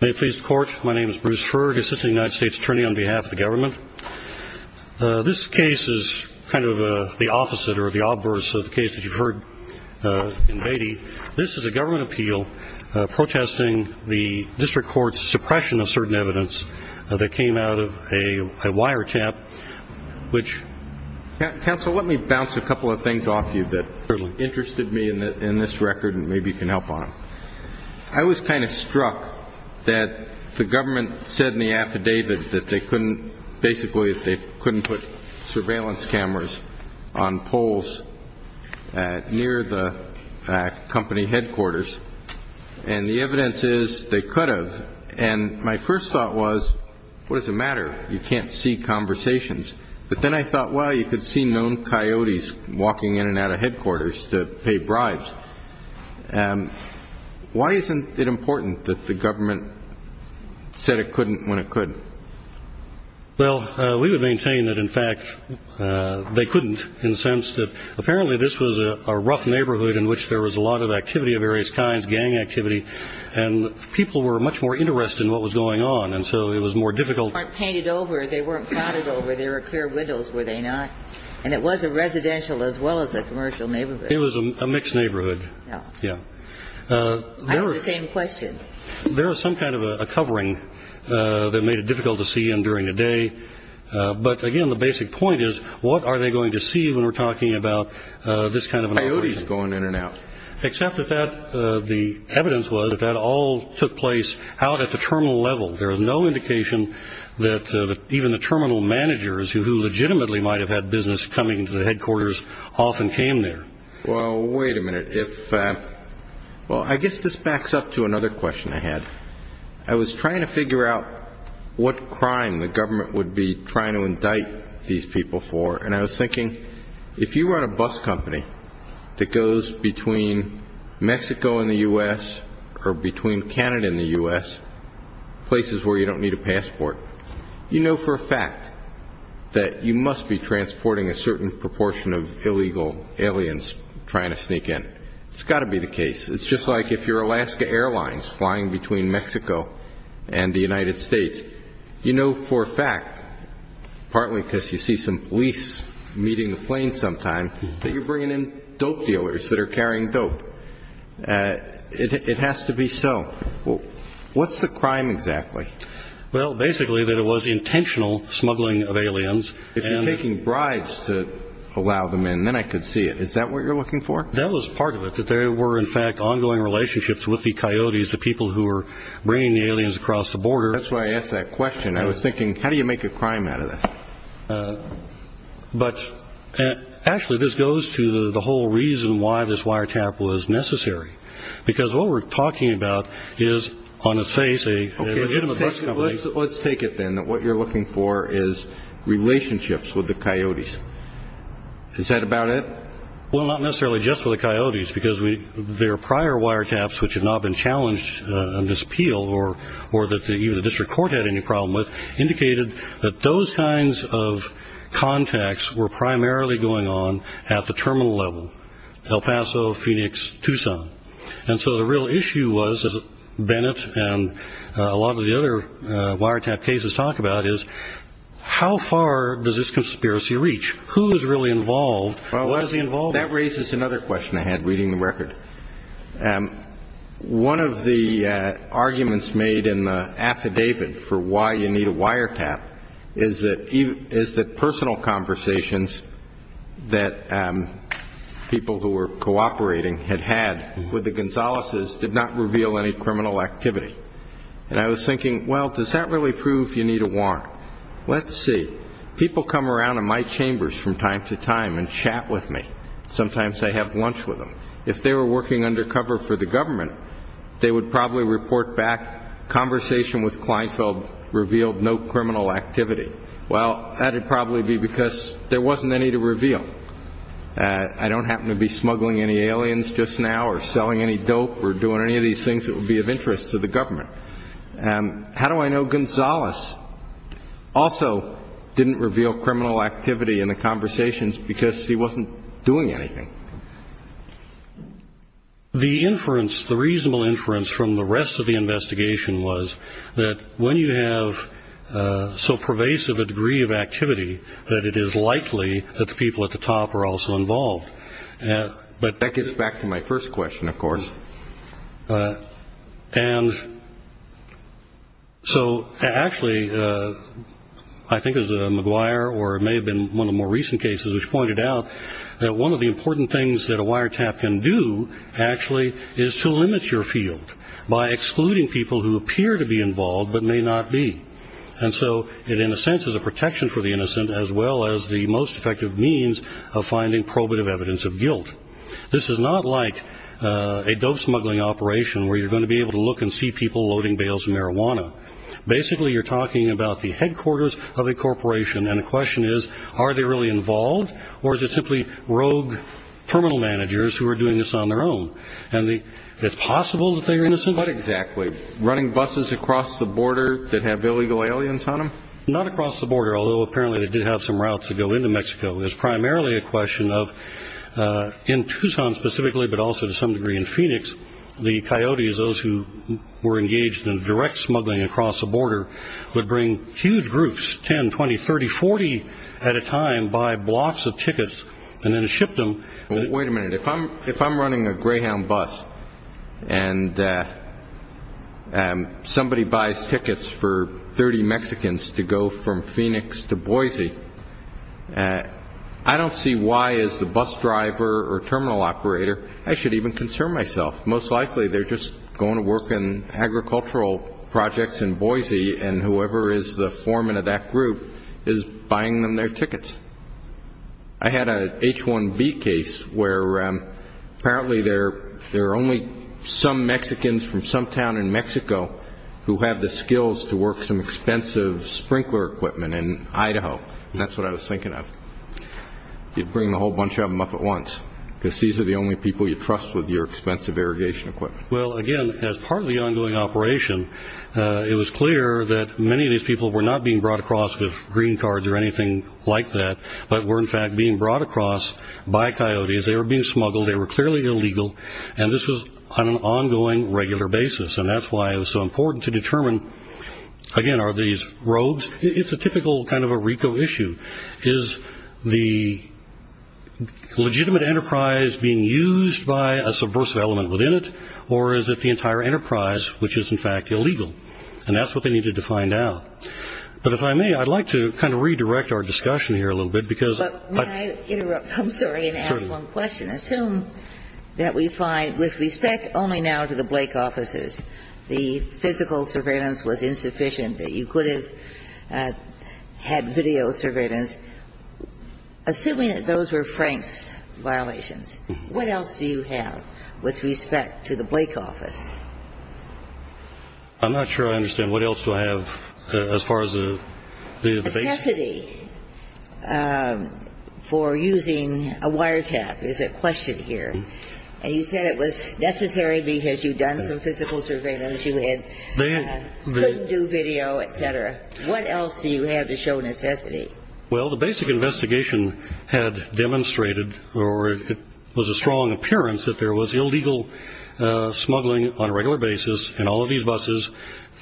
May it please the Court, my name is Bruce Ferg, Assistant United States Attorney on behalf of the government. This case is kind of the opposite or the obverse of the case that you've heard in Beatty. This is a government appeal protesting the district court's suppression of certain evidence that came out of a wiretap which Counsel, let me bounce a couple of things off you that interested me in this record and maybe you can help on them. I was kind of struck that the government said in the affidavit that they couldn't, basically, they couldn't put surveillance cameras on poles near the company headquarters. And the evidence is they could have. And my first thought was, what does it matter? You can't see conversations. But then I thought, well, you could see known coyotes walking in and out of headquarters to pay bribes. Why isn't it important that the government said it couldn't when it could? Well, we would maintain that, in fact, they couldn't in the sense that apparently this was a rough neighborhood in which there was a lot of activity of various kinds, gang activity, and people were much more interested in what was going on. And so it was more difficult. They weren't painted over. They weren't clouded over. There were clear windows, were they not? And it was a residential as well as a commercial neighborhood. It was a mixed neighborhood. I have the same question. There was some kind of a covering that made it difficult to see in during the day. But, again, the basic point is, what are they going to see when we're talking about this kind of an operation? Coyotes going in and out. Except that the evidence was that that all took place out at the terminal level. There was no indication that even the terminal managers who legitimately might have had business coming to the headquarters often came there. Well, wait a minute. Well, I guess this backs up to another question I had. I was trying to figure out what crime the government would be trying to indict these people for, and I was thinking, if you run a bus company that goes between Mexico and the U.S. or between Canada and the U.S., places where you don't need a passport, you know for a fact that you must be transporting a certain proportion of illegal aliens trying to sneak in. It's got to be the case. It's just like if you're Alaska Airlines flying between Mexico and the United States. You know for a fact, partly because you see some police meeting the plane sometime, that you're bringing in dope dealers that are carrying dope. It has to be so. What's the crime exactly? Well, basically that it was intentional smuggling of aliens. If you're taking bribes to allow them in, then I could see it. Is that what you're looking for? That was part of it, that there were, in fact, ongoing relationships with the coyotes, the people who were bringing the aliens across the border. That's why I asked that question. I was thinking, how do you make a crime out of this? Actually, this goes to the whole reason why this wiretap was necessary, because what we're talking about is on its face a legitimate bus company. Let's take it then that what you're looking for is relationships with the coyotes. Is that about it? Well, not necessarily just with the coyotes, because there are prior wiretaps which have not been challenged on this appeal or that even the district court had any problem with, indicated that those kinds of contacts were primarily going on at the terminal level, El Paso, Phoenix, Tucson. And so the real issue was, as Bennett and a lot of the other wiretap cases talk about, is how far does this conspiracy reach? Who is really involved? What is he involved in? That raises another question I had reading the record. One of the arguments made in the affidavit for why you need a wiretap is that personal conversations that people who were cooperating had had with the Gonzaleses did not reveal any criminal activity. And I was thinking, well, does that really prove you need a warrant? Let's see. People come around in my chambers from time to time and chat with me. Sometimes I have lunch with them. If they were working undercover for the government, they would probably report back, conversation with Kleinfeld revealed no criminal activity. Well, that would probably be because there wasn't any to reveal. I don't happen to be smuggling any aliens just now or selling any dope or doing any of these things that would be of interest to the government. How do I know Gonzales also didn't reveal criminal activity in the conversations because he wasn't doing anything? The inference, the reasonable inference from the rest of the investigation was that when you have so pervasive a degree of activity, that it is likely that the people at the top are also involved. That gets back to my first question, of course. And so actually I think it was McGuire or it may have been one of the more recent cases which pointed out that one of the important things that a wiretap can do actually is to limit your field by excluding people who appear to be involved but may not be. And so it in a sense is a protection for the innocent as well as the most effective means of finding probative evidence of guilt. This is not like a dope smuggling operation where you're going to be able to look and see people loading bales of marijuana. Basically you're talking about the headquarters of a corporation and the question is are they really involved or is it simply rogue terminal managers who are doing this on their own? And it's possible that they are innocent. But exactly, running buses across the border that have illegal aliens on them? Not across the border, although apparently they did have some routes that go into Mexico. It's primarily a question of in Tucson specifically but also to some degree in Phoenix, the coyotes, those who were engaged in direct smuggling across the border, would bring huge groups, 10, 20, 30, 40 at a time by blocks of tickets and then ship them. Wait a minute, if I'm running a Greyhound bus and somebody buys tickets for 30 Mexicans to go from Phoenix to Boise, I don't see why as the bus driver or terminal operator I should even concern myself. Most likely they're just going to work in agricultural projects in Boise and whoever is the foreman of that group is buying them their tickets. I had an H-1B case where apparently there are only some Mexicans from some town in Mexico who have the skills to work some expensive sprinkler equipment in Idaho. And that's what I was thinking of. You'd bring a whole bunch of them up at once because these are the only people you trust with your expensive irrigation equipment. Well, again, as part of the ongoing operation, it was clear that many of these people were not being brought across with green cards or anything like that but were in fact being brought across by coyotes. They were being smuggled. They were clearly illegal. And this was on an ongoing regular basis. And that's why it was so important to determine, again, are these rogues? It's a typical kind of a RICO issue. Is the legitimate enterprise being used by a subversive element within it or is it the entire enterprise which is, in fact, illegal? And that's what they needed to find out. But if I may, I'd like to kind of redirect our discussion here a little bit. But may I interrupt? I'm sorry, and ask one question. Assume that we find, with respect only now to the Blake offices, the physical surveillance was insufficient, that you could have had video surveillance. Assuming that those were Frank's violations, what else do you have with respect to the Blake office? I'm not sure I understand. What else do I have as far as the base? Necessity for using a wiretap is a question here. And you said it was necessary because you'd done some physical surveillance, you couldn't do video, et cetera. What else do you have to show necessity? Well, the basic investigation had demonstrated or it was a strong appearance that there was illegal smuggling on a regular basis in all of these buses,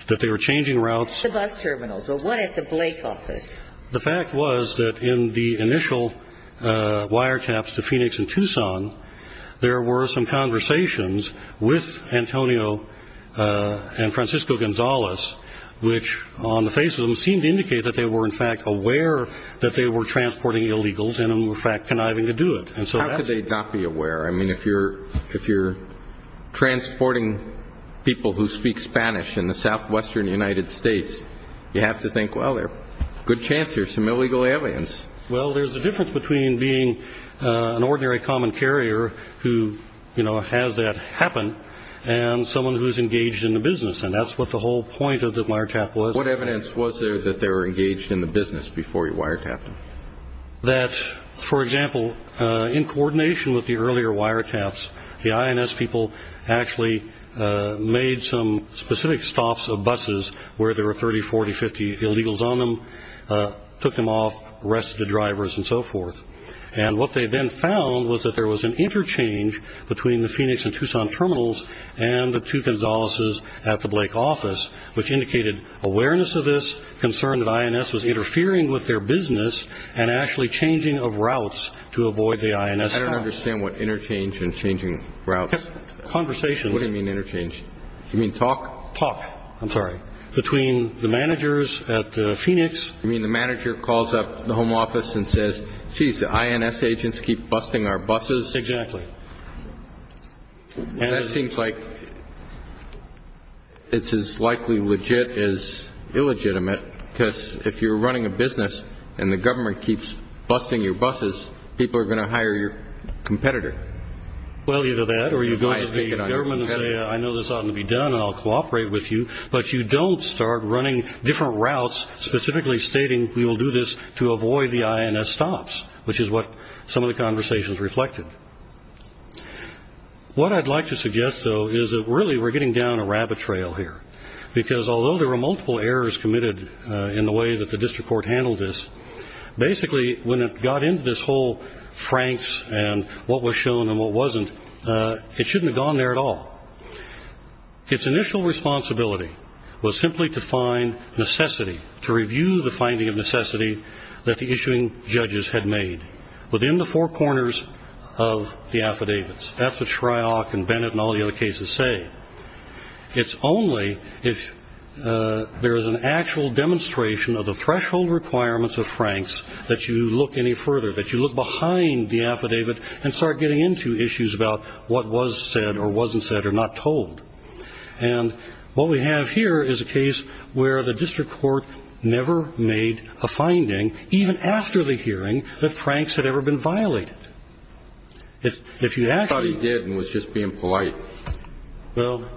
that they were changing routes. The bus terminals. The one at the Blake office. The fact was that in the initial wiretaps to Phoenix and Tucson, there were some conversations with Antonio and Francisco Gonzalez, which on the face of them seemed to indicate that they were, in fact, aware that they were transporting illegals and, in fact, conniving to do it. How could they not be aware? I mean, if you're transporting people who speak Spanish in the southwestern United States, you have to think, well, there's a good chance there's some illegal aliens. Well, there's a difference between being an ordinary common carrier who has that happen and someone who's engaged in the business, and that's what the whole point of the wiretap was. What evidence was there that they were engaged in the business before you wiretapped them? That, for example, in coordination with the earlier wiretaps, the INS people actually made some specific stops of buses where there were 30, 40, 50 illegals on them, took them off, arrested the drivers, and so forth. And what they then found was that there was an interchange between the Phoenix and Tucson terminals and the two Gonzalez's at the Blake office, which indicated awareness of this, concern that INS was interfering with their business and actually changing of routes to avoid the INS. I don't understand what interchange and changing routes. Conversations. What do you mean interchange? You mean talk? Talk, I'm sorry, between the managers at the Phoenix. You mean the manager calls up the home office and says, geez, the INS agents keep busting our buses? Exactly. That seems like it's as likely legit as illegitimate, because if you're running a business and the government keeps busting your buses, people are going to hire your competitor. Well, either that or you go to the government and say, I know this ought not to be done, and I'll cooperate with you, but you don't start running different routes, specifically stating we will do this to avoid the INS stops, which is what some of the conversations reflected. What I'd like to suggest, though, is that really we're getting down a rabbit trail here, because although there were multiple errors committed in the way that the district court handled this, basically when it got into this whole franks and what was shown and what wasn't, it shouldn't have gone there at all. Its initial responsibility was simply to find necessity, to review the finding of necessity that the issuing judges had made within the four corners of the affidavits. That's what Shryock and Bennett and all the other cases say. It's only if there is an actual demonstration of the threshold requirements of franks that you look any further, that you look behind the affidavit and start getting into issues about what was said or wasn't said or not told. And what we have here is a case where the district court never made a finding, even after the hearing, that franks had ever been violated. I thought he did and was just being polite. I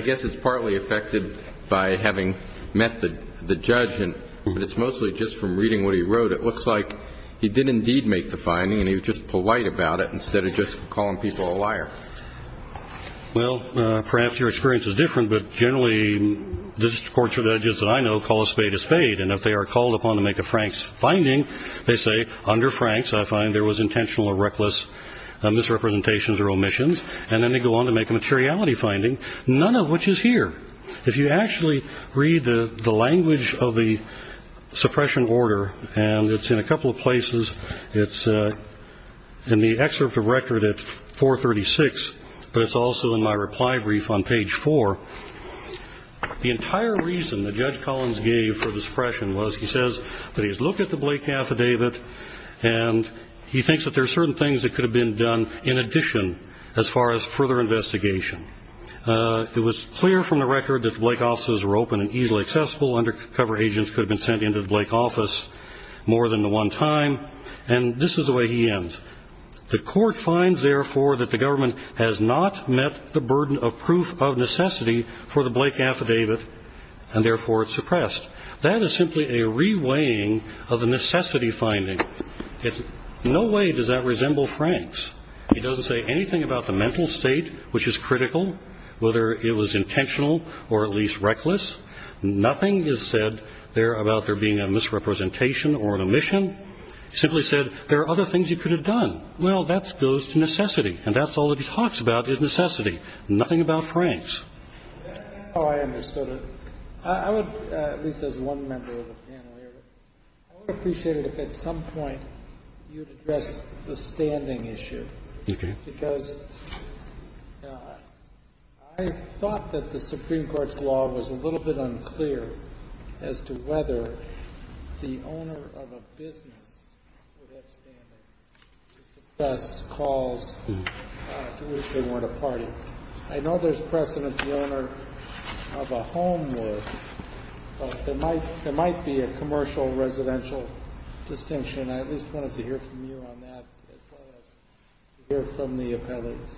guess it's partly affected by having met the judge, but it's mostly just from reading what he wrote. It looks like he did indeed make the finding and he was just polite about it instead of just calling people a liar. Well, perhaps your experience is different, but generally district court judges that I know call a spade a spade. And if they are called upon to make a franks finding, they say, under franks, I find there was intentional or reckless misrepresentations or omissions. And then they go on to make a materiality finding, none of which is here. If you actually read the language of the suppression order, and it's in a couple of places, it's in the excerpt of record at 436, but it's also in my reply brief on page four. The entire reason that Judge Collins gave for the suppression was he says that he's looked at the Blake affidavit and he thinks that there are certain things that could have been done in addition as far as further investigation. It was clear from the record that the Blake offices were open and easily accessible. Undercover agents could have been sent into the Blake office more than the one time. And this is the way he ends. The court finds, therefore, that the government has not met the burden of proof of necessity for the Blake affidavit, and therefore it's suppressed. That is simply a reweighing of the necessity finding. In no way does that resemble franks. He doesn't say anything about the mental state, which is critical, whether it was intentional or at least reckless. Nothing is said there about there being a misrepresentation or an omission. He simply said there are other things you could have done. Well, that goes to necessity, and that's all that he talks about is necessity. Nothing about franks. Oh, I understood it. I would, at least as one member of the panel here, I would appreciate it if at some point you would address the standing issue. Okay. Because I thought that the Supreme Court's law was a little bit unclear as to whether the owner of a business would have standing to suppress calls to which they weren't a party. I know there's precedent the owner of a home would. There might be a commercial residential distinction. I at least wanted to hear from you on that as well as hear from the appellates.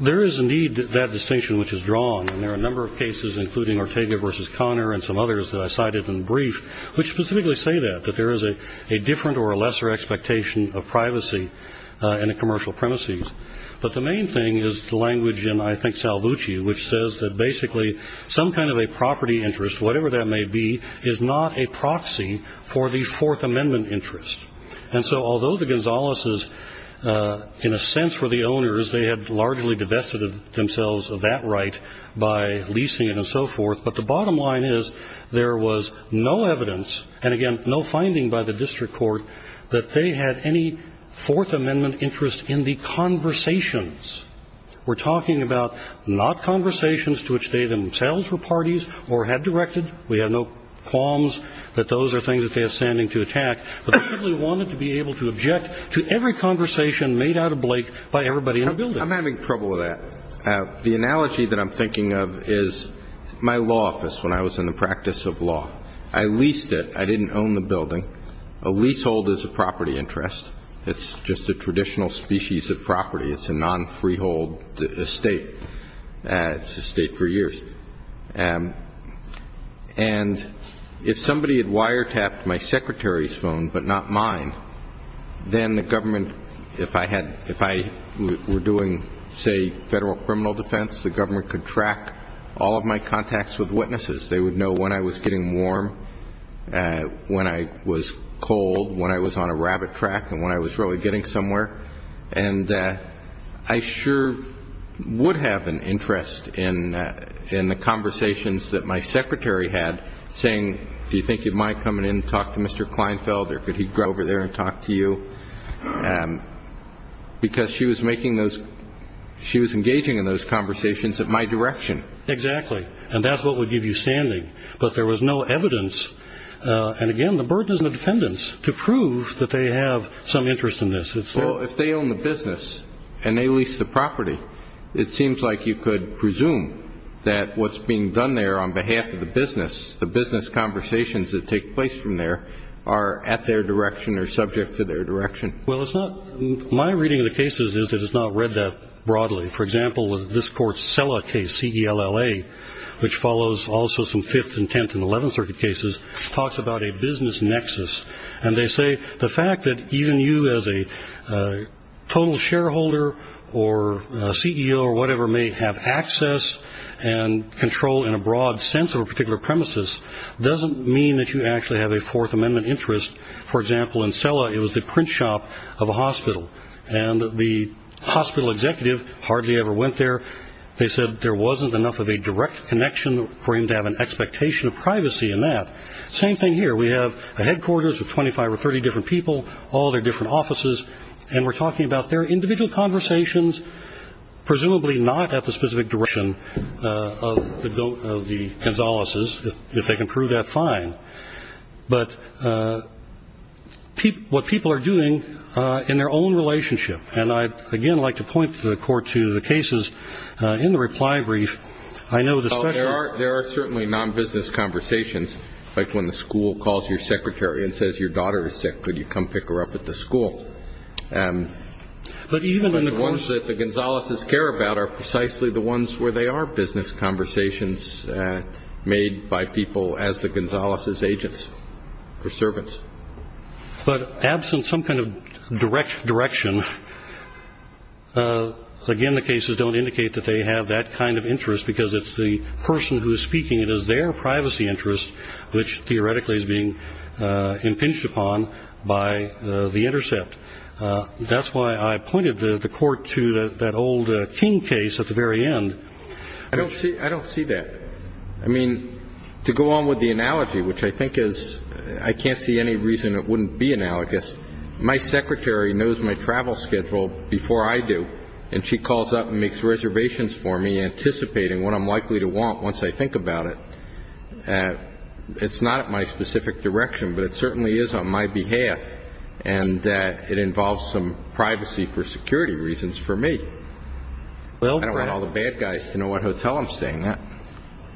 There is, indeed, that distinction which is drawn, and there are a number of cases, including Ortega v. Conner and some others that I cited in brief, which specifically say that, that there is a different or a lesser expectation of privacy in a commercial premises. But the main thing is the language in, I think, Salvucci, which says that basically some kind of a property interest, whatever that may be, is not a proxy for the Fourth Amendment interest. And so although the Gonzaleses, in a sense, were the owners, they had largely divested themselves of that right by leasing it and so forth, but the bottom line is there was no evidence, and again, no finding by the district court, that they had any Fourth Amendment interest in the conversations. We're talking about not conversations to which they themselves were parties or had directed. We have no qualms that those are things that they have standing to attack. But they really wanted to be able to object to every conversation made out of Blake by everybody in the building. I'm having trouble with that. The analogy that I'm thinking of is my law office when I was in the practice of law. I leased it. I didn't own the building. A leasehold is a property interest. It's just a traditional species of property. It's a non-freehold estate. It's a state for years. And if somebody had wiretapped my secretary's phone but not mine, then the government, if I were doing, say, federal criminal defense, the government could track all of my contacts with witnesses. They would know when I was getting warm, when I was cold, when I was on a rabbit track, and when I was really getting somewhere. And I sure would have an interest in the conversations that my secretary had, saying, do you think you'd mind coming in and talk to Mr. Kleinfeld or could he go over there and talk to you? Because she was making those ‑‑ she was engaging in those conversations at my direction. Exactly. And that's what would give you standing. But there was no evidence. And, again, the burden is on the defendants to prove that they have some interest in this. Well, if they own the business and they lease the property, it seems like you could presume that what's being done there on behalf of the business, the business conversations that take place from there, are at their direction or subject to their direction. Well, it's not ‑‑ my reading of the cases is that it's not read that broadly. For example, this court's Cella case, C-E-L-L-A, which follows also some Fifth and Tenth and Eleventh Circuit cases, talks about a business nexus. And they say the fact that even you as a total shareholder or a CEO or whatever may have access and control in a broad sense of a particular premises doesn't mean that you actually have a Fourth Amendment interest. For example, in Cella, it was the print shop of a hospital. And the hospital executive hardly ever went there. They said there wasn't enough of a direct connection for him to have an expectation of privacy in that. Same thing here. We have a headquarters of 25 or 30 different people, all their different offices, and we're talking about their individual conversations, presumably not at the specific direction of the Gonzaleses, if they can prove that, fine, but what people are doing in their own relationship. And I'd, again, like to point the court to the cases in the reply brief. There are certainly non-business conversations, like when the school calls your secretary and says your daughter is sick. Could you come pick her up at the school? The ones that the Gonzaleses care about are precisely the ones where they are business conversations made by people as the Gonzaleses' agents or servants. But absent some kind of direction, again, some of the cases don't indicate that they have that kind of interest because it's the person who is speaking. It is their privacy interest which theoretically is being impinged upon by the intercept. That's why I pointed the court to that old King case at the very end. I don't see that. I mean, to go on with the analogy, which I think is I can't see any reason it wouldn't be analogous, my secretary knows my travel schedule before I do, and she calls up and makes reservations for me anticipating what I'm likely to want once I think about it. It's not at my specific direction, but it certainly is on my behalf, and it involves some privacy for security reasons for me. I don't want all the bad guys to know what hotel I'm staying at.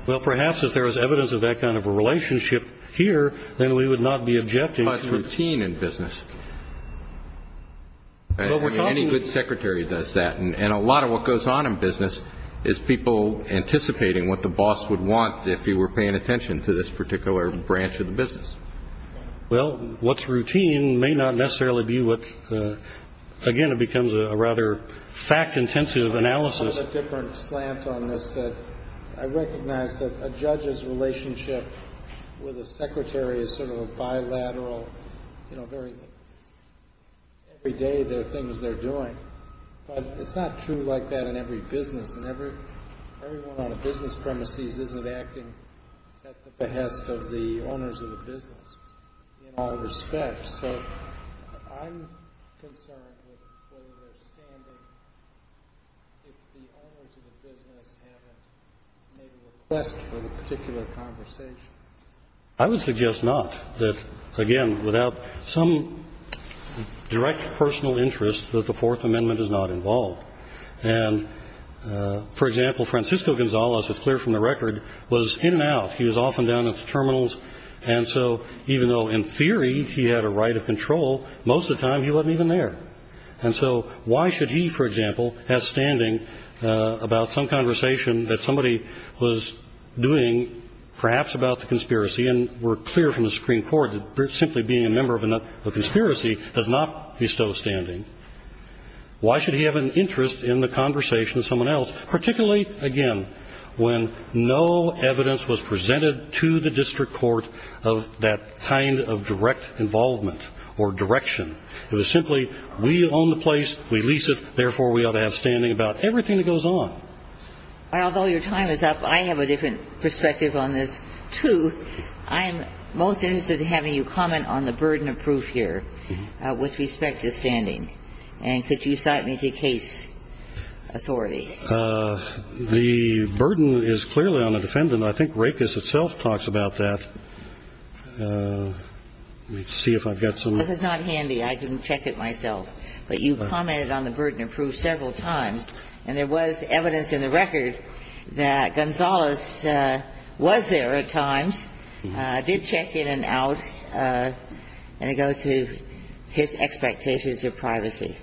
Well, perhaps if there was evidence of that kind of a relationship here, then we would not be objecting. Well, what's routine in business? I mean, any good secretary does that, and a lot of what goes on in business is people anticipating what the boss would want if he were paying attention to this particular branch of the business. Well, what's routine may not necessarily be what, again, it becomes a rather fact-intensive analysis. There's a different slant on this that I recognize, that a judge's relationship with a secretary is sort of a bilateral, you know, every day there are things they're doing, but it's not true like that in every business, and everyone on the business premises isn't acting at the behest of the owners of the business in all respects. So I'm concerned with where they're standing if the owners of the business haven't made a request for the particular conversation. I would suggest not, that, again, without some direct personal interest, that the Fourth Amendment is not involved. And, for example, Francisco Gonzalez, it's clear from the record, was in and out. He was often down at the terminals, and so even though in theory he had a right of control, most of the time he wasn't even there. And so why should he, for example, have standing about some conversation that somebody was doing, perhaps about the conspiracy, and we're clear from the Supreme Court that simply being a member of a conspiracy does not bestow standing. Why should he have an interest in the conversation of someone else, particularly, again, when no evidence was presented to the district court of that kind of direct involvement or direction? It was simply we own the place, we lease it, therefore we ought to have standing about everything that goes on. And although your time is up, I have a different perspective on this, too. I'm most interested in having you comment on the burden of proof here with respect to standing. And could you cite me to case authority? The burden is clearly on the defendant. I think Rakes itself talks about that. Let me see if I've got some of that. It was not handy. I didn't check it myself. But you commented on the burden of proof several times, and there was evidence in the record that Gonzalez was there at times. I did check in and out, and it goes to his expectations of privacy.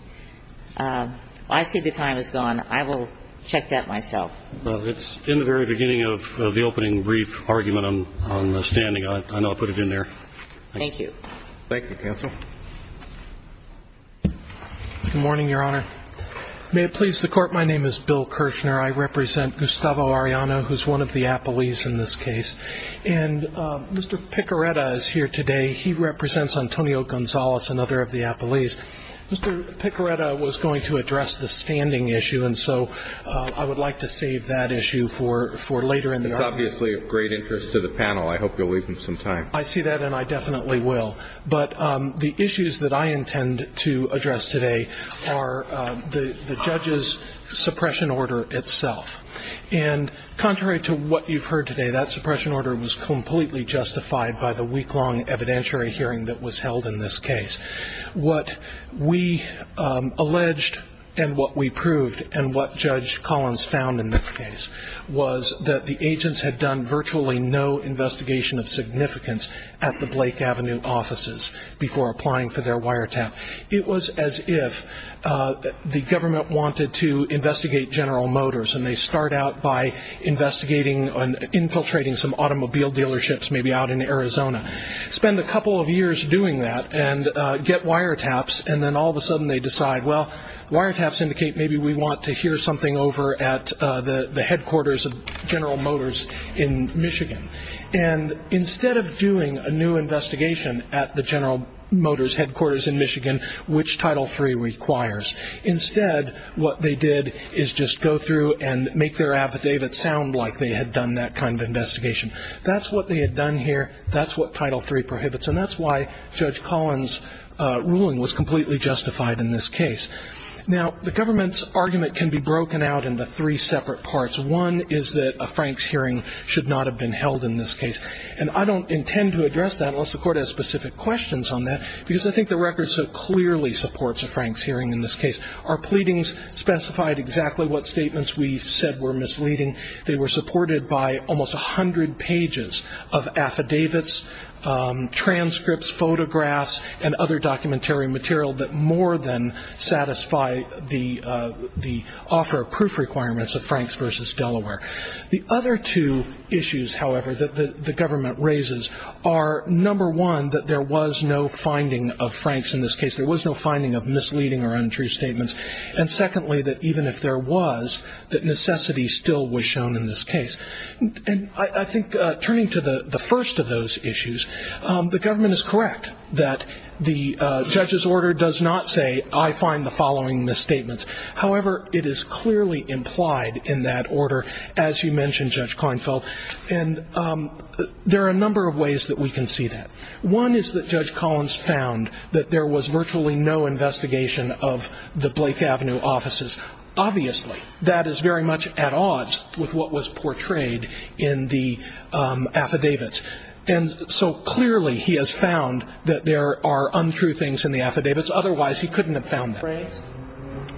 I see the time is gone. I will check that myself. It's in the very beginning of the opening brief argument on standing. I know I put it in there. Thank you. Thank you, counsel. Good morning, Your Honor. May it please the Court, my name is Bill Kirshner. I represent Gustavo Arellano, who is one of the appellees in this case. And Mr. Picareta is here today. He represents Antonio Gonzalez, another of the appellees. Mr. Picareta was going to address the standing issue, and so I would like to save that issue for later in the argument. It's obviously of great interest to the panel. I hope you'll leave him some time. I see that, and I definitely will. But the issues that I intend to address today are the judge's suppression order itself. And contrary to what you've heard today, that suppression order was completely justified by the week-long evidentiary hearing that was held in this case. What we alleged and what we proved and what Judge Collins found in this case was that the agents had done virtually no investigation of significance at the Blake Avenue offices before applying for their wiretap. It was as if the government wanted to investigate General Motors, and they start out by investigating and infiltrating some automobile dealerships maybe out in Arizona. Spend a couple of years doing that and get wiretaps, and then all of a sudden they decide, well, wiretaps indicate maybe we want to hear something over at the headquarters of General Motors in Michigan. And instead of doing a new investigation at the General Motors headquarters in Michigan, which Title III requires, instead what they did is just go through and make their affidavit sound like they had done that kind of investigation. That's what they had done here. That's what Title III prohibits, and that's why Judge Collins' ruling was completely justified in this case. Now, the government's argument can be broken out into three separate parts. One is that a Franks hearing should not have been held in this case, and I don't intend to address that unless the Court has specific questions on that, because I think the record so clearly supports a Franks hearing in this case. Our pleadings specified exactly what statements we said were misleading. They were supported by almost 100 pages of affidavits, transcripts, photographs, and other documentary material that more than satisfy the offer of proof requirements of Franks v. Delaware. The other two issues, however, that the government raises are, number one, that there was no finding of Franks in this case. There was no finding of misleading or untrue statements. And secondly, that even if there was, that necessity still was shown in this case. And I think turning to the first of those issues, the government is correct that the judge's order does not say, I find the following misstatements. However, it is clearly implied in that order, as you mentioned, Judge Klinefeld, and there are a number of ways that we can see that. One is that Judge Collins found that there was virtually no investigation of the Blake Avenue offices. Obviously, that is very much at odds with what was portrayed in the affidavits. And so clearly he has found that there are untrue things in the affidavits. Otherwise, he couldn't have found that.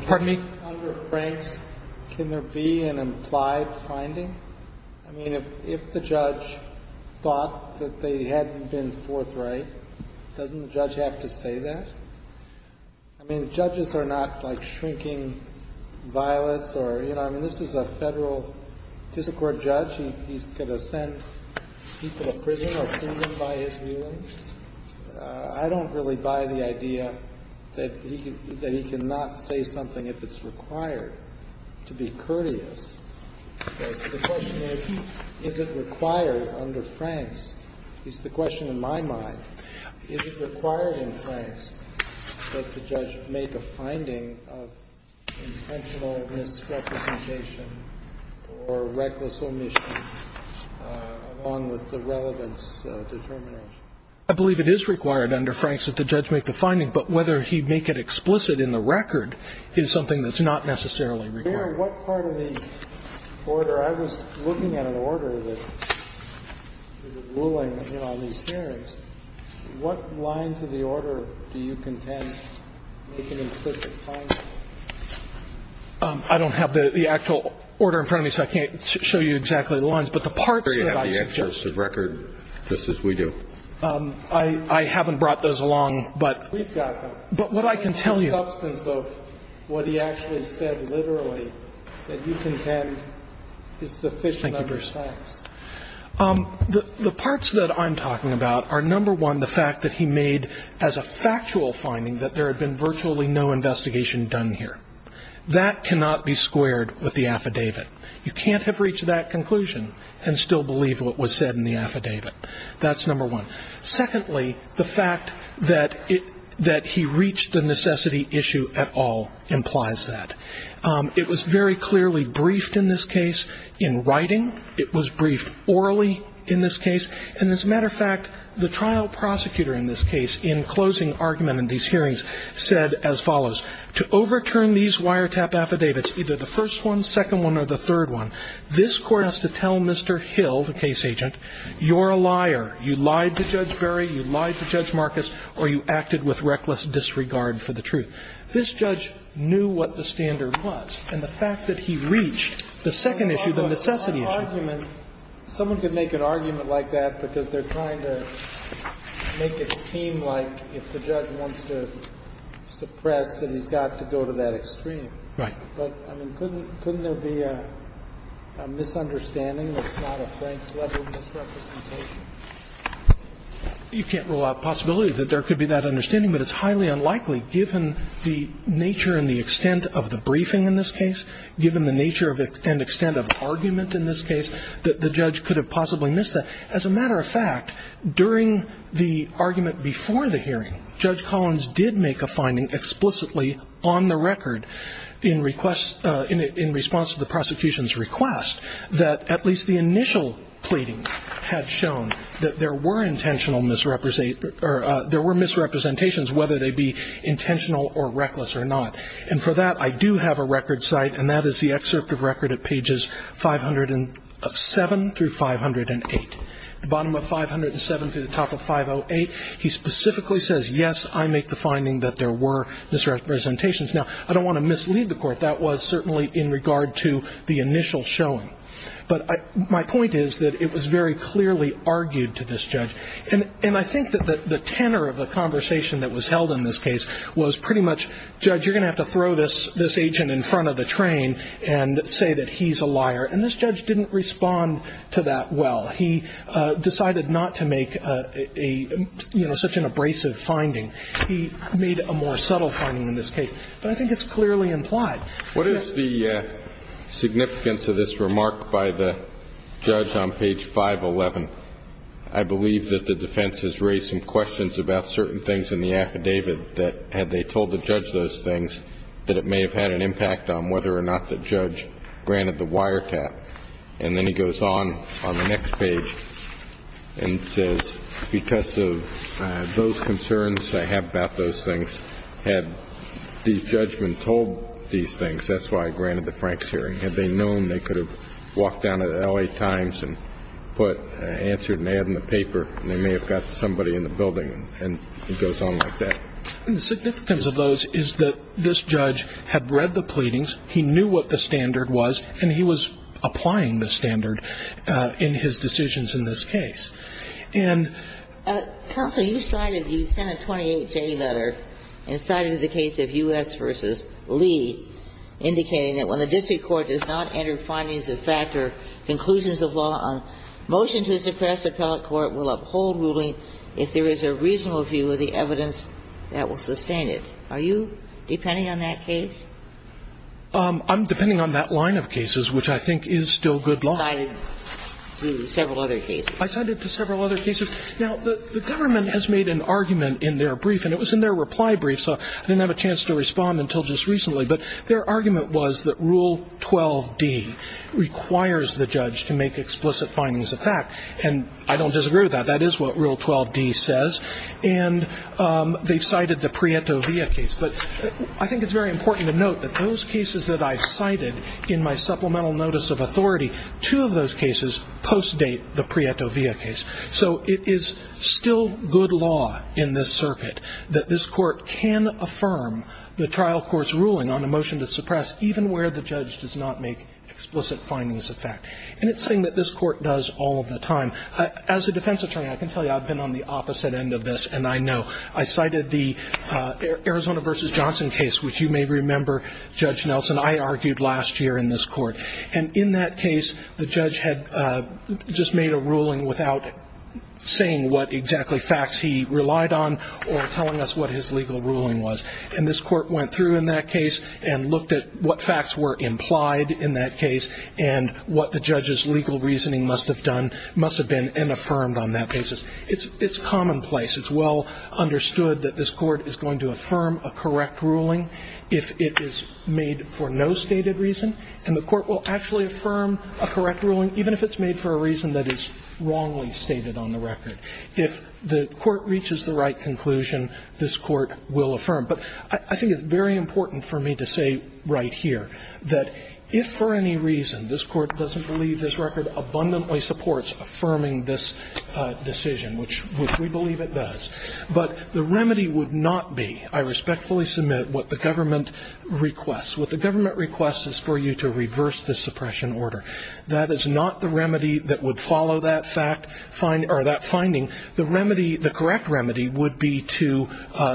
Pardon me? Under Franks, can there be an implied finding? I mean, if the judge thought that they hadn't been forthright, doesn't the judge have to say that? I mean, judges are not like shrinking violets or, you know, I mean, this is a federal physical court judge. He's going to send people to prison or prison by his ruling. I don't really buy the idea that he can not say something if it's required to be courteous. The question is, is it required under Franks? It's the question in my mind. Is it required in Franks that the judge make a finding of intentional misrepresentation or reckless omission along with the relevance determination? I believe it is required under Franks that the judge make the finding, but whether he make it explicit in the record is something that's not necessarily required. Mr. Baird, what part of the order? I was looking at an order that is ruling in all these hearings. What lines of the order do you contend make an implicit finding? I don't have the actual order in front of me, so I can't show you exactly the lines, but the parts that I suggest. I'm sure you have the explicit record, just as we do. I haven't brought those along, but what I can tell you. The substance of what he actually said literally that you contend is sufficient under Franks. The parts that I'm talking about are, number one, the fact that he made as a factual finding that there had been virtually no investigation done here. That cannot be squared with the affidavit. You can't have reached that conclusion and still believe what was said in the affidavit. That's number one. Secondly, the fact that he reached the necessity issue at all implies that. It was very clearly briefed in this case in writing. It was briefed orally in this case. And as a matter of fact, the trial prosecutor in this case, in closing argument in these hearings, said as follows. To overturn these wiretap affidavits, either the first one, second one, or the third one, this Court has to tell Mr. Hill, the case agent, you're a liar. You lied to Judge Berry. You lied to Judge Marcus. Or you acted with reckless disregard for the truth. This judge knew what the standard was. And the fact that he reached the second issue, the necessity issue. Kennedy. Someone could make an argument like that because they're trying to make it seem like if the judge wants to suppress that he's got to go to that extreme. Right. But, I mean, couldn't there be a misunderstanding that's not a Franks-level misrepresentation? You can't rule out the possibility that there could be that understanding, but it's highly unlikely, given the nature and the extent of the briefing in this case, given the nature and extent of argument in this case, that the judge could have possibly missed that. As a matter of fact, during the argument before the hearing, Judge Collins did make a finding explicitly on the record in response to the prosecution's request that at least the initial pleadings had shown that there were misrepresentations, whether they be intentional or reckless or not. And for that, I do have a record site, and that is the excerpt of record at pages 507 through 508. The bottom of 507 through the top of 508, he specifically says, yes, I make the finding that there were misrepresentations. Now, I don't want to mislead the Court. That was certainly in regard to the initial showing. But my point is that it was very clearly argued to this judge. And I think that the tenor of the conversation that was held in this case was pretty much, Judge, you're going to have to throw this agent in front of the train and say that he's a liar. And this judge didn't respond to that well. He decided not to make a, you know, such an abrasive finding. He made a more subtle finding in this case. But I think it's clearly implied. What is the significance of this remark by the judge on page 511? I believe that the defense has raised some questions about certain things in the affidavit that had they told the judge those things, that it may have had an impact on whether or not the judge granted the wiretap. And then he goes on on the next page and says, because of those concerns I have about those things, had these judgments told these things, that's why I granted the Franks hearing. Had they known they could have walked down to the L.A. Times and answered an ad in the paper, they may have got somebody in the building. And it goes on like that. The significance of those is that this judge had read the pleadings, he knew what the standard was, and he was applying the standard in his decisions in this case. And Counsel, you cited, you sent a 28-J letter and cited the case of U.S. v. Lee, indicating that when the district court does not enter findings that factor conclusions of law on motion to suppress appellate court will uphold ruling if there is a reasonable view of the evidence that will sustain it. Are you depending on that case? I'm depending on that line of cases, which I think is still good law. You cited several other cases. I cited several other cases. Now, the government has made an argument in their brief, and it was in their reply brief, so I didn't have a chance to respond until just recently. But their argument was that Rule 12D requires the judge to make explicit findings of fact. And I don't disagree with that. That is what Rule 12D says. And they cited the Prieto-Villa case. But I think it's very important to note that those cases that I cited in my supplemental notice of authority, two of those cases post-date the Prieto-Villa case. So it is still good law in this circuit that this Court can affirm the trial court's ruling on a motion to suppress, even where the judge does not make explicit findings of fact. And it's a thing that this Court does all of the time. As a defense attorney, I can tell you I've been on the opposite end of this, and I know. I cited the Arizona v. Johnson case, which you may remember, Judge Nelson, I argued last year in this Court. And in that case, the judge had just made a ruling without saying what exactly facts he relied on or telling us what his legal ruling was. And this Court went through in that case and looked at what facts were implied in that case and what the judge's legal reasoning must have done, must have been, and affirmed on that basis. It's commonplace. It's well understood that this Court is going to affirm a correct ruling if it is made for no stated reason. And the Court will actually affirm a correct ruling even if it's made for a reason that is wrongly stated on the record. If the Court reaches the right conclusion, this Court will affirm. But I think it's very important for me to say right here that if for any reason this Court doesn't believe this record abundantly supports affirming this decision, which we believe it does, but the remedy would not be, I respectfully submit, what the government requests. What the government requests is for you to reverse the suppression order. That is not the remedy that would follow that fact or that finding. The remedy, the correct remedy would be to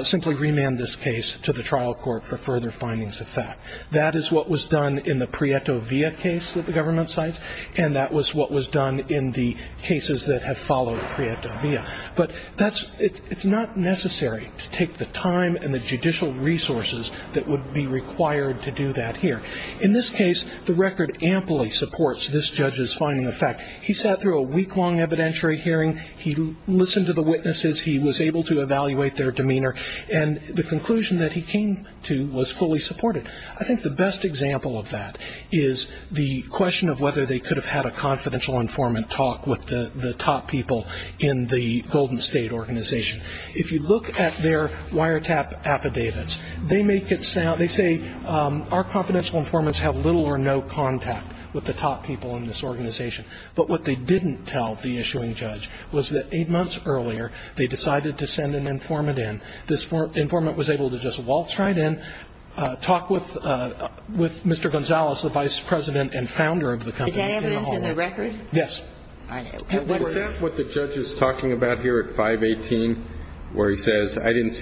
simply remand this case to the trial court for further findings of fact. That is what was done in the Prieto Villa case that the government cites, and that was what was done in the cases that have followed Prieto Villa. But that's, it's not necessary to take the time and the judicial resources that would be required to do that here. In this case, the record amply supports this judge's finding of fact. He sat through a week-long evidentiary hearing. He listened to the witnesses. He was able to evaluate their demeanor. And the conclusion that he came to was fully supported. I think the best example of that is the question of whether they could have had a confidential informant talk with the top people in the Golden State organization. If you look at their wiretap affidavits, they make it sound, they say our confidential informants have little or no contact with the top people in this organization. But what they didn't tell the issuing judge was that eight months earlier, they decided to send an informant in. This informant was able to just waltz right in, talk with Mr. Gonzalez, the vice president and founder of the company. Is that evidence in the record? Yes. Is that what the judge is talking about here at 518, where he says, I didn't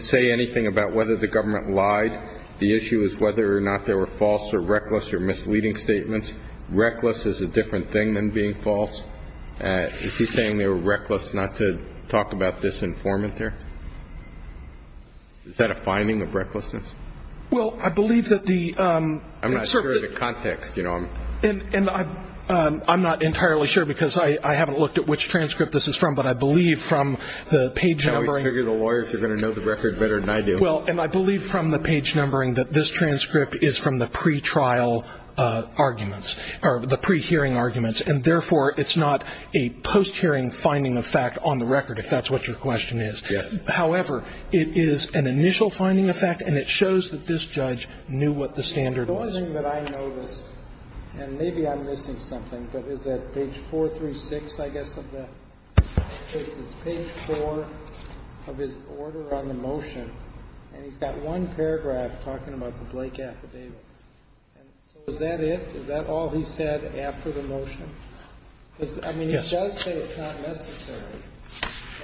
say anything about whether the government lied? The issue is whether or not they were false or reckless or misleading statements. Reckless is a different thing than being false. Is he saying they were reckless not to talk about this informant there? Is that a finding of recklessness? Well, I believe that the... I'm not sure of the context. And I'm not entirely sure because I haven't looked at which transcript this is from, but I believe from the page numbering... I always figure the lawyers are going to know the record better than I do. Well, and I believe from the page numbering that this transcript is from the pre-trial arguments, or the pre-hearing arguments, and therefore it's not a post-hearing finding of fact on the record, if that's what your question is. Yes. However, it is an initial finding of fact, and it shows that this judge knew what the standard was. The one thing that I noticed, and maybe I'm missing something, but is that page 436, I guess, of the... Page 4 of his order on the motion, and he's got one paragraph talking about the Blake affidavit. And so is that it? Is that all he said after the motion? I mean, he does say it's not necessary.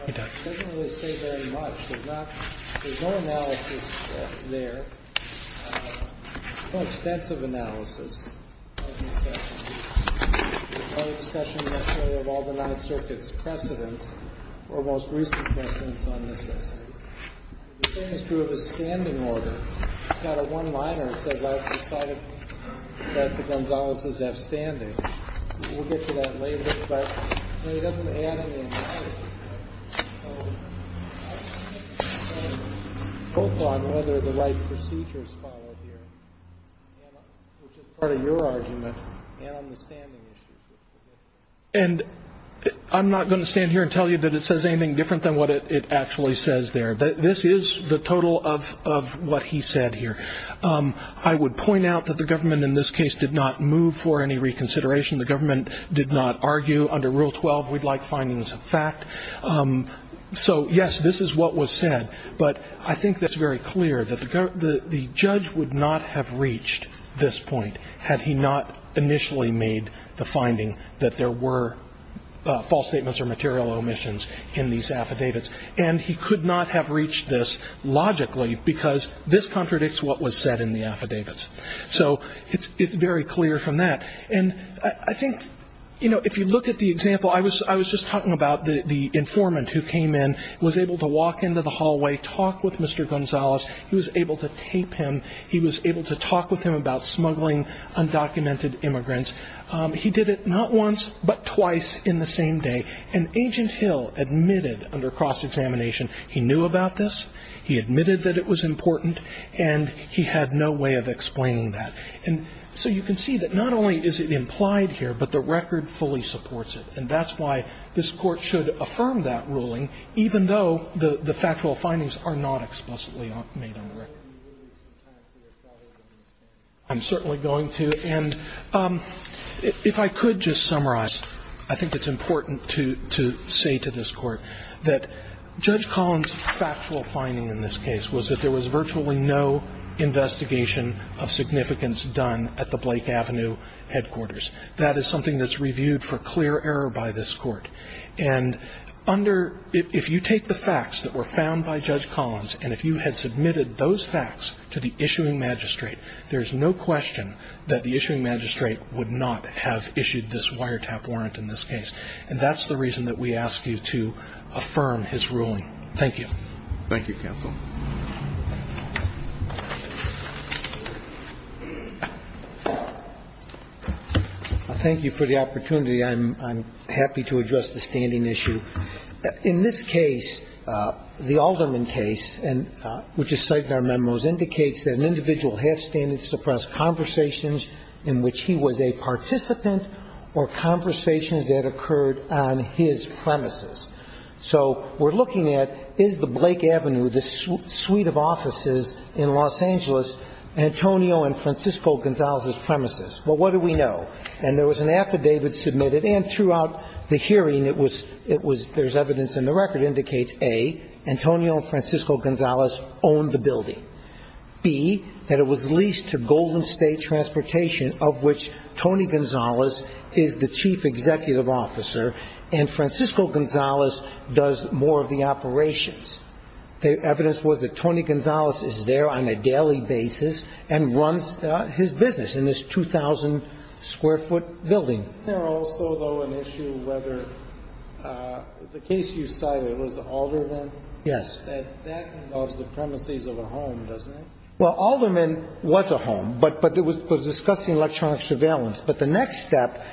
He doesn't really say very much. There's not... There's no analysis there. No extensive analysis. No discussion necessarily of all the Ninth Circuit's precedents or most recent precedents on necessity. The same is true of his standing order. He's got a one-liner that says I've decided that the Gonzaleses have standing. We'll get to that later, but he doesn't add any analysis there. And I'm not going to stand here and tell you that it says anything different than what it actually says there. This is the total of what he said here. I would point out that the government in this case did not move for any reconsideration. The government did not argue. Under Rule 12, we'd like findings of fact. So, yes, this is what was said, but I think that's very clear, that the judge would not have reached this point had he not initially made the finding that there were false statements or material omissions in these affidavits. And he could not have reached this logically, because this contradicts what was said in the affidavits. So it's very clear from that. And I think, you know, if you look at the example, I was just talking about the informant who came in, was able to walk into the hallway, talk with Mr. Gonzales. He was able to tape him. He was able to talk with him about smuggling undocumented immigrants. He did it not once, but twice in the same day. And Agent Hill admitted under cross-examination he knew about this, he admitted that it was important, and he had no way of explaining that. And so you can see that not only is it implied here, but the record fully supports it. And that's why this Court should affirm that ruling, even though the factual findings are not explicitly made on the record. I'm certainly going to. And if I could just summarize, I think it's important to say to this Court that Judge Collins' factual finding in this case was that there was virtually no investigation of significance done at the Blake Avenue headquarters. That is something that's reviewed for clear error by this Court. And under – if you take the facts that were found by Judge Collins, and if you had submitted those facts to the issuing magistrate, there's no question that the issuing magistrate would not have issued this wiretap warrant in this case. And that's the reason that we ask you to affirm his ruling. Thank you. Thank you, counsel. Thank you for the opportunity. I'm happy to address the standing issue. In this case, the Alderman case, which is cited in our memos, indicates that an individual has standing to suppress conversations in which he was a participant or conversations that occurred on his premises. So we're looking at, is the Blake Avenue, the suite of offices in Los Angeles, Antonio and Francisco Gonzalez's premises? Well, what do we know? And there was an affidavit submitted. And throughout the hearing, it was – it was – there's evidence in the record indicates, A, Antonio and Francisco Gonzalez owned the building, B, that it was leased to Golden State Transportation, of which Tony Gonzalez is the chief executive officer, and Francisco Gonzalez does more of the operations. The evidence was that Tony Gonzalez is there on a daily basis and runs his business in this 2,000-square-foot building. Isn't there also, though, an issue whether the case you cited was the Alderman? Yes. That that involves the premises of a home, doesn't it? Well, Alderman was a home, but it was discussing electronic surveillance. But the next step,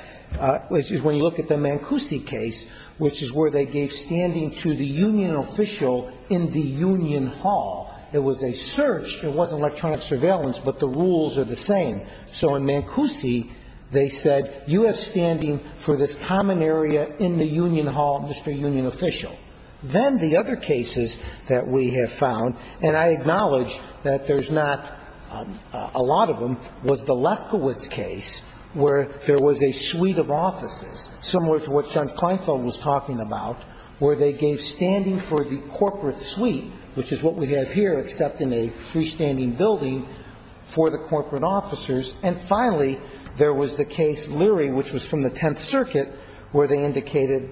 which is when you look at the Mancusi case, which is where they gave standing to the union official in the union hall. It was a search. It wasn't electronic surveillance, but the rules are the same. So in Mancusi, they said, you have standing for this common area in the union hall, Mr. Union Official. Then the other cases that we have found, and I acknowledge that there's not a lot of them, was the Lefkowitz case, where there was a suite of offices, similar to what Judge Kleinfeld was talking about, where they gave standing for the corporate suite, which is what we have here, except in a freestanding building, for the corporate officers. And finally, there was the case Leary, which was from the Tenth Circuit, where they indicated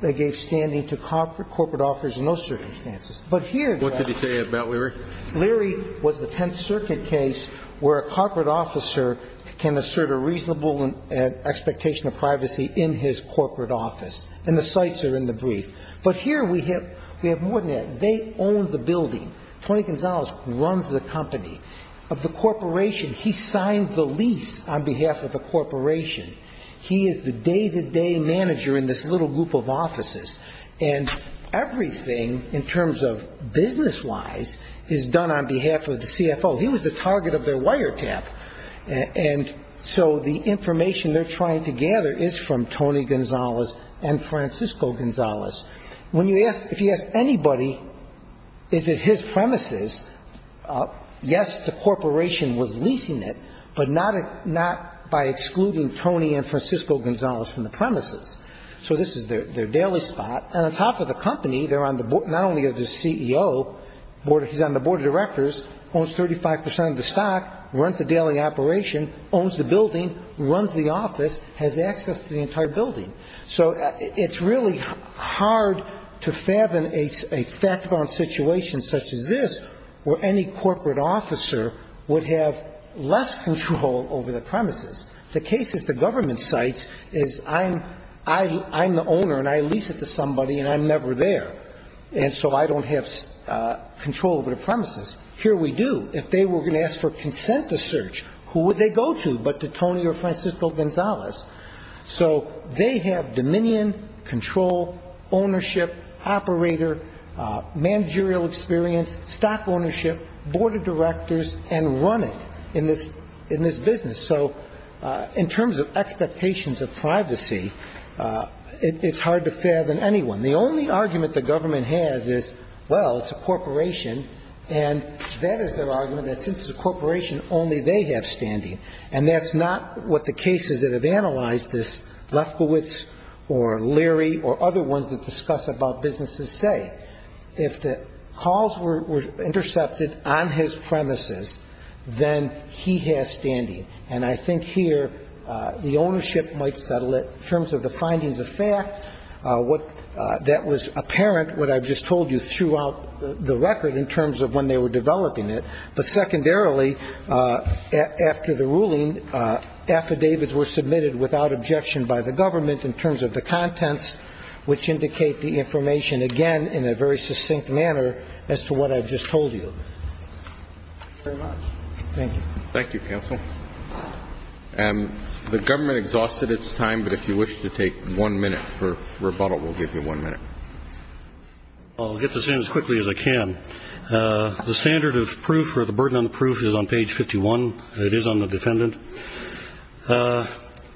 they gave standing to corporate officers in those circumstances. But here, though, What did he say about Leary? Leary was the Tenth Circuit case where a corporate officer can assert a reasonable expectation of privacy in his corporate office. And the sites are in the brief. But here we have more than that. They own the building. Tony Gonzalez runs the company. Of the corporation, he signed the lease on behalf of the corporation. And everything, in terms of business-wise, is done on behalf of the CFO. He was the target of their wiretap. And so the information they're trying to gather is from Tony Gonzalez and Francisco Gonzalez. When you ask, if you ask anybody, is it his premises, yes, the corporation was leasing it, but not by excluding Tony and Francisco Gonzalez from the premises. So this is their daily spot. And on top of the company, they're on the board, not only of the CEO, he's on the board of directors, owns 35 percent of the stock, runs the daily operation, owns the building, runs the office, has access to the entire building. So it's really hard to fathom a fact-bound situation such as this where any corporate officer would have less control over the premises. The case, as the government cites, is I'm the owner and I lease it to somebody and I'm never there, and so I don't have control over the premises. Here we do. If they were going to ask for consent to search, who would they go to but to Tony or Francisco Gonzalez? So they have dominion, control, ownership, operator, managerial experience, stock ownership, board of directors, and running in this business. So in terms of expectations of privacy, it's hard to fathom anyone. The only argument the government has is, well, it's a corporation, and that is their argument, that since it's a corporation, only they have standing. And that's not what the cases that have analyzed this, Lefkowitz or Leary or other ones that discuss about businesses say. If the calls were intercepted on his premises, then he has standing. And I think here the ownership might settle it in terms of the findings of fact, what that was apparent, what I've just told you, throughout the record in terms of when they were developing it. But secondarily, after the ruling, affidavits were submitted without objection by the government in terms of the contents, which indicate the information again in a very succinct manner as to what I've just told you. Thank you. Thank you, counsel. The government exhausted its time, but if you wish to take one minute for rebuttal, we'll give you one minute. I'll get this in as quickly as I can. The standard of proof or the burden of proof is on page 51. It is on the defendant.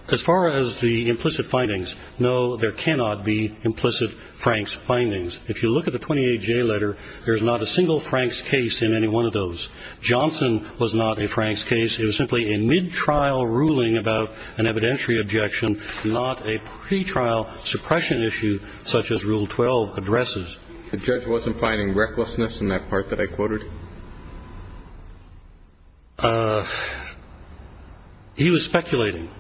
As far as the implicit findings, no, there cannot be implicit Frank's findings. If you look at the 28-J letter, there is not a single Frank's case in any one of those. Johnson was not a Frank's case. It was simply a mid-trial ruling about an evidentiary objection, not a pretrial suppression issue such as Rule 12 addresses. The judge wasn't finding recklessness in that part that I quoted? He was speculating.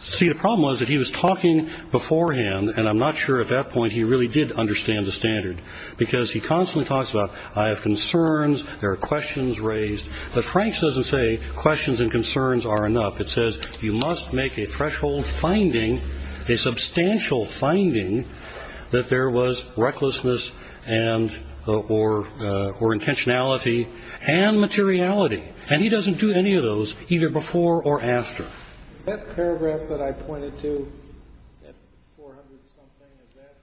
See, the problem was that he was talking beforehand, and I'm not sure at that point he really did understand the standard because he constantly talks about I have concerns, there are questions raised. But Frank's doesn't say questions and concerns are enough. It says you must make a threshold finding, a substantial finding, that there was recklessness or intentionality and materiality. And he doesn't do any of those either before or after. That paragraph that I pointed to at 400-something, is that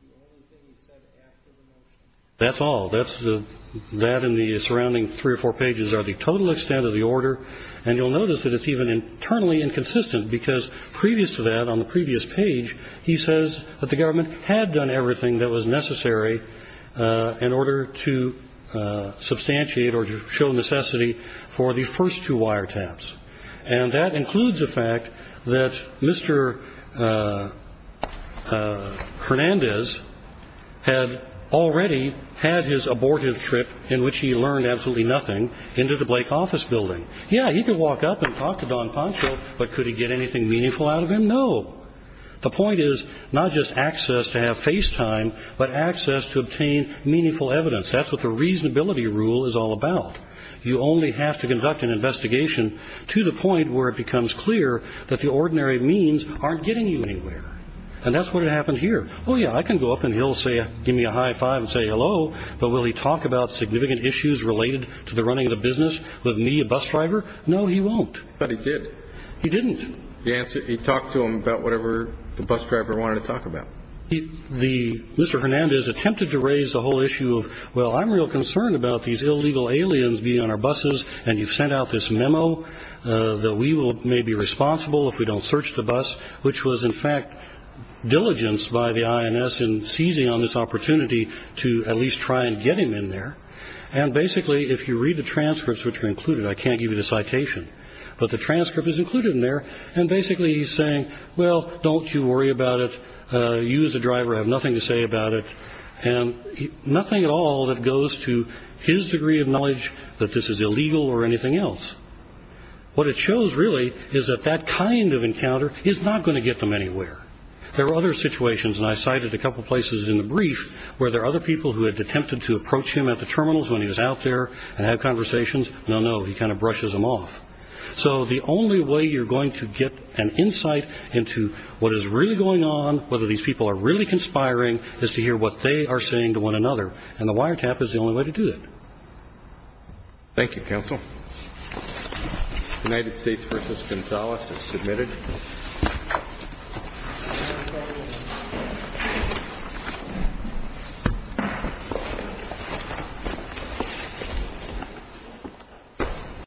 the only thing he said after the motion? That's all. That and the surrounding three or four pages are the total extent of the order, and you'll notice that it's even internally inconsistent because previous to that, on the previous page, he says that the government had done everything that was necessary in order to substantiate or to show necessity for the first two wiretaps. And that includes the fact that Mr. Hernandez had already had his abortive trip, in which he learned absolutely nothing, into the Blake office building. Yeah, he could walk up and talk to Don Pancho, but could he get anything meaningful out of him? No. The point is not just access to have face time, but access to obtain meaningful evidence. That's what the reasonability rule is all about. You only have to conduct an investigation to the point where it becomes clear that the ordinary means aren't getting you anywhere. And that's what happened here. Oh yeah, I can go up and he'll give me a high five and say hello, but will he talk about significant issues related to the running of the business with me, a bus driver? No, he won't. But he did. He didn't. He talked to him about whatever the bus driver wanted to talk about. Mr. Hernandez attempted to raise the whole issue of, well, I'm real concerned about these illegal aliens being on our buses, and you've sent out this memo that we may be responsible if we don't search the bus, which was in fact diligence by the INS in seizing on this opportunity to at least try and get him in there. And basically, if you read the transcripts which are included, I can't give you the citation, but the transcript is included in there. And basically he's saying, well, don't you worry about it. You as a driver have nothing to say about it. And nothing at all that goes to his degree of knowledge that this is illegal or anything else. What it shows really is that that kind of encounter is not going to get them anywhere. There are other situations, and I cited a couple places in the brief, where there are other people who had attempted to approach him at the terminals when he was out there and had conversations. No, no, he kind of brushes them off. So the only way you're going to get an insight into what is really going on, whether these people are really conspiring, is to hear what they are saying to one another. And the wiretap is the only way to do that. Thank you, counsel. United States v. Gonzales is submitted.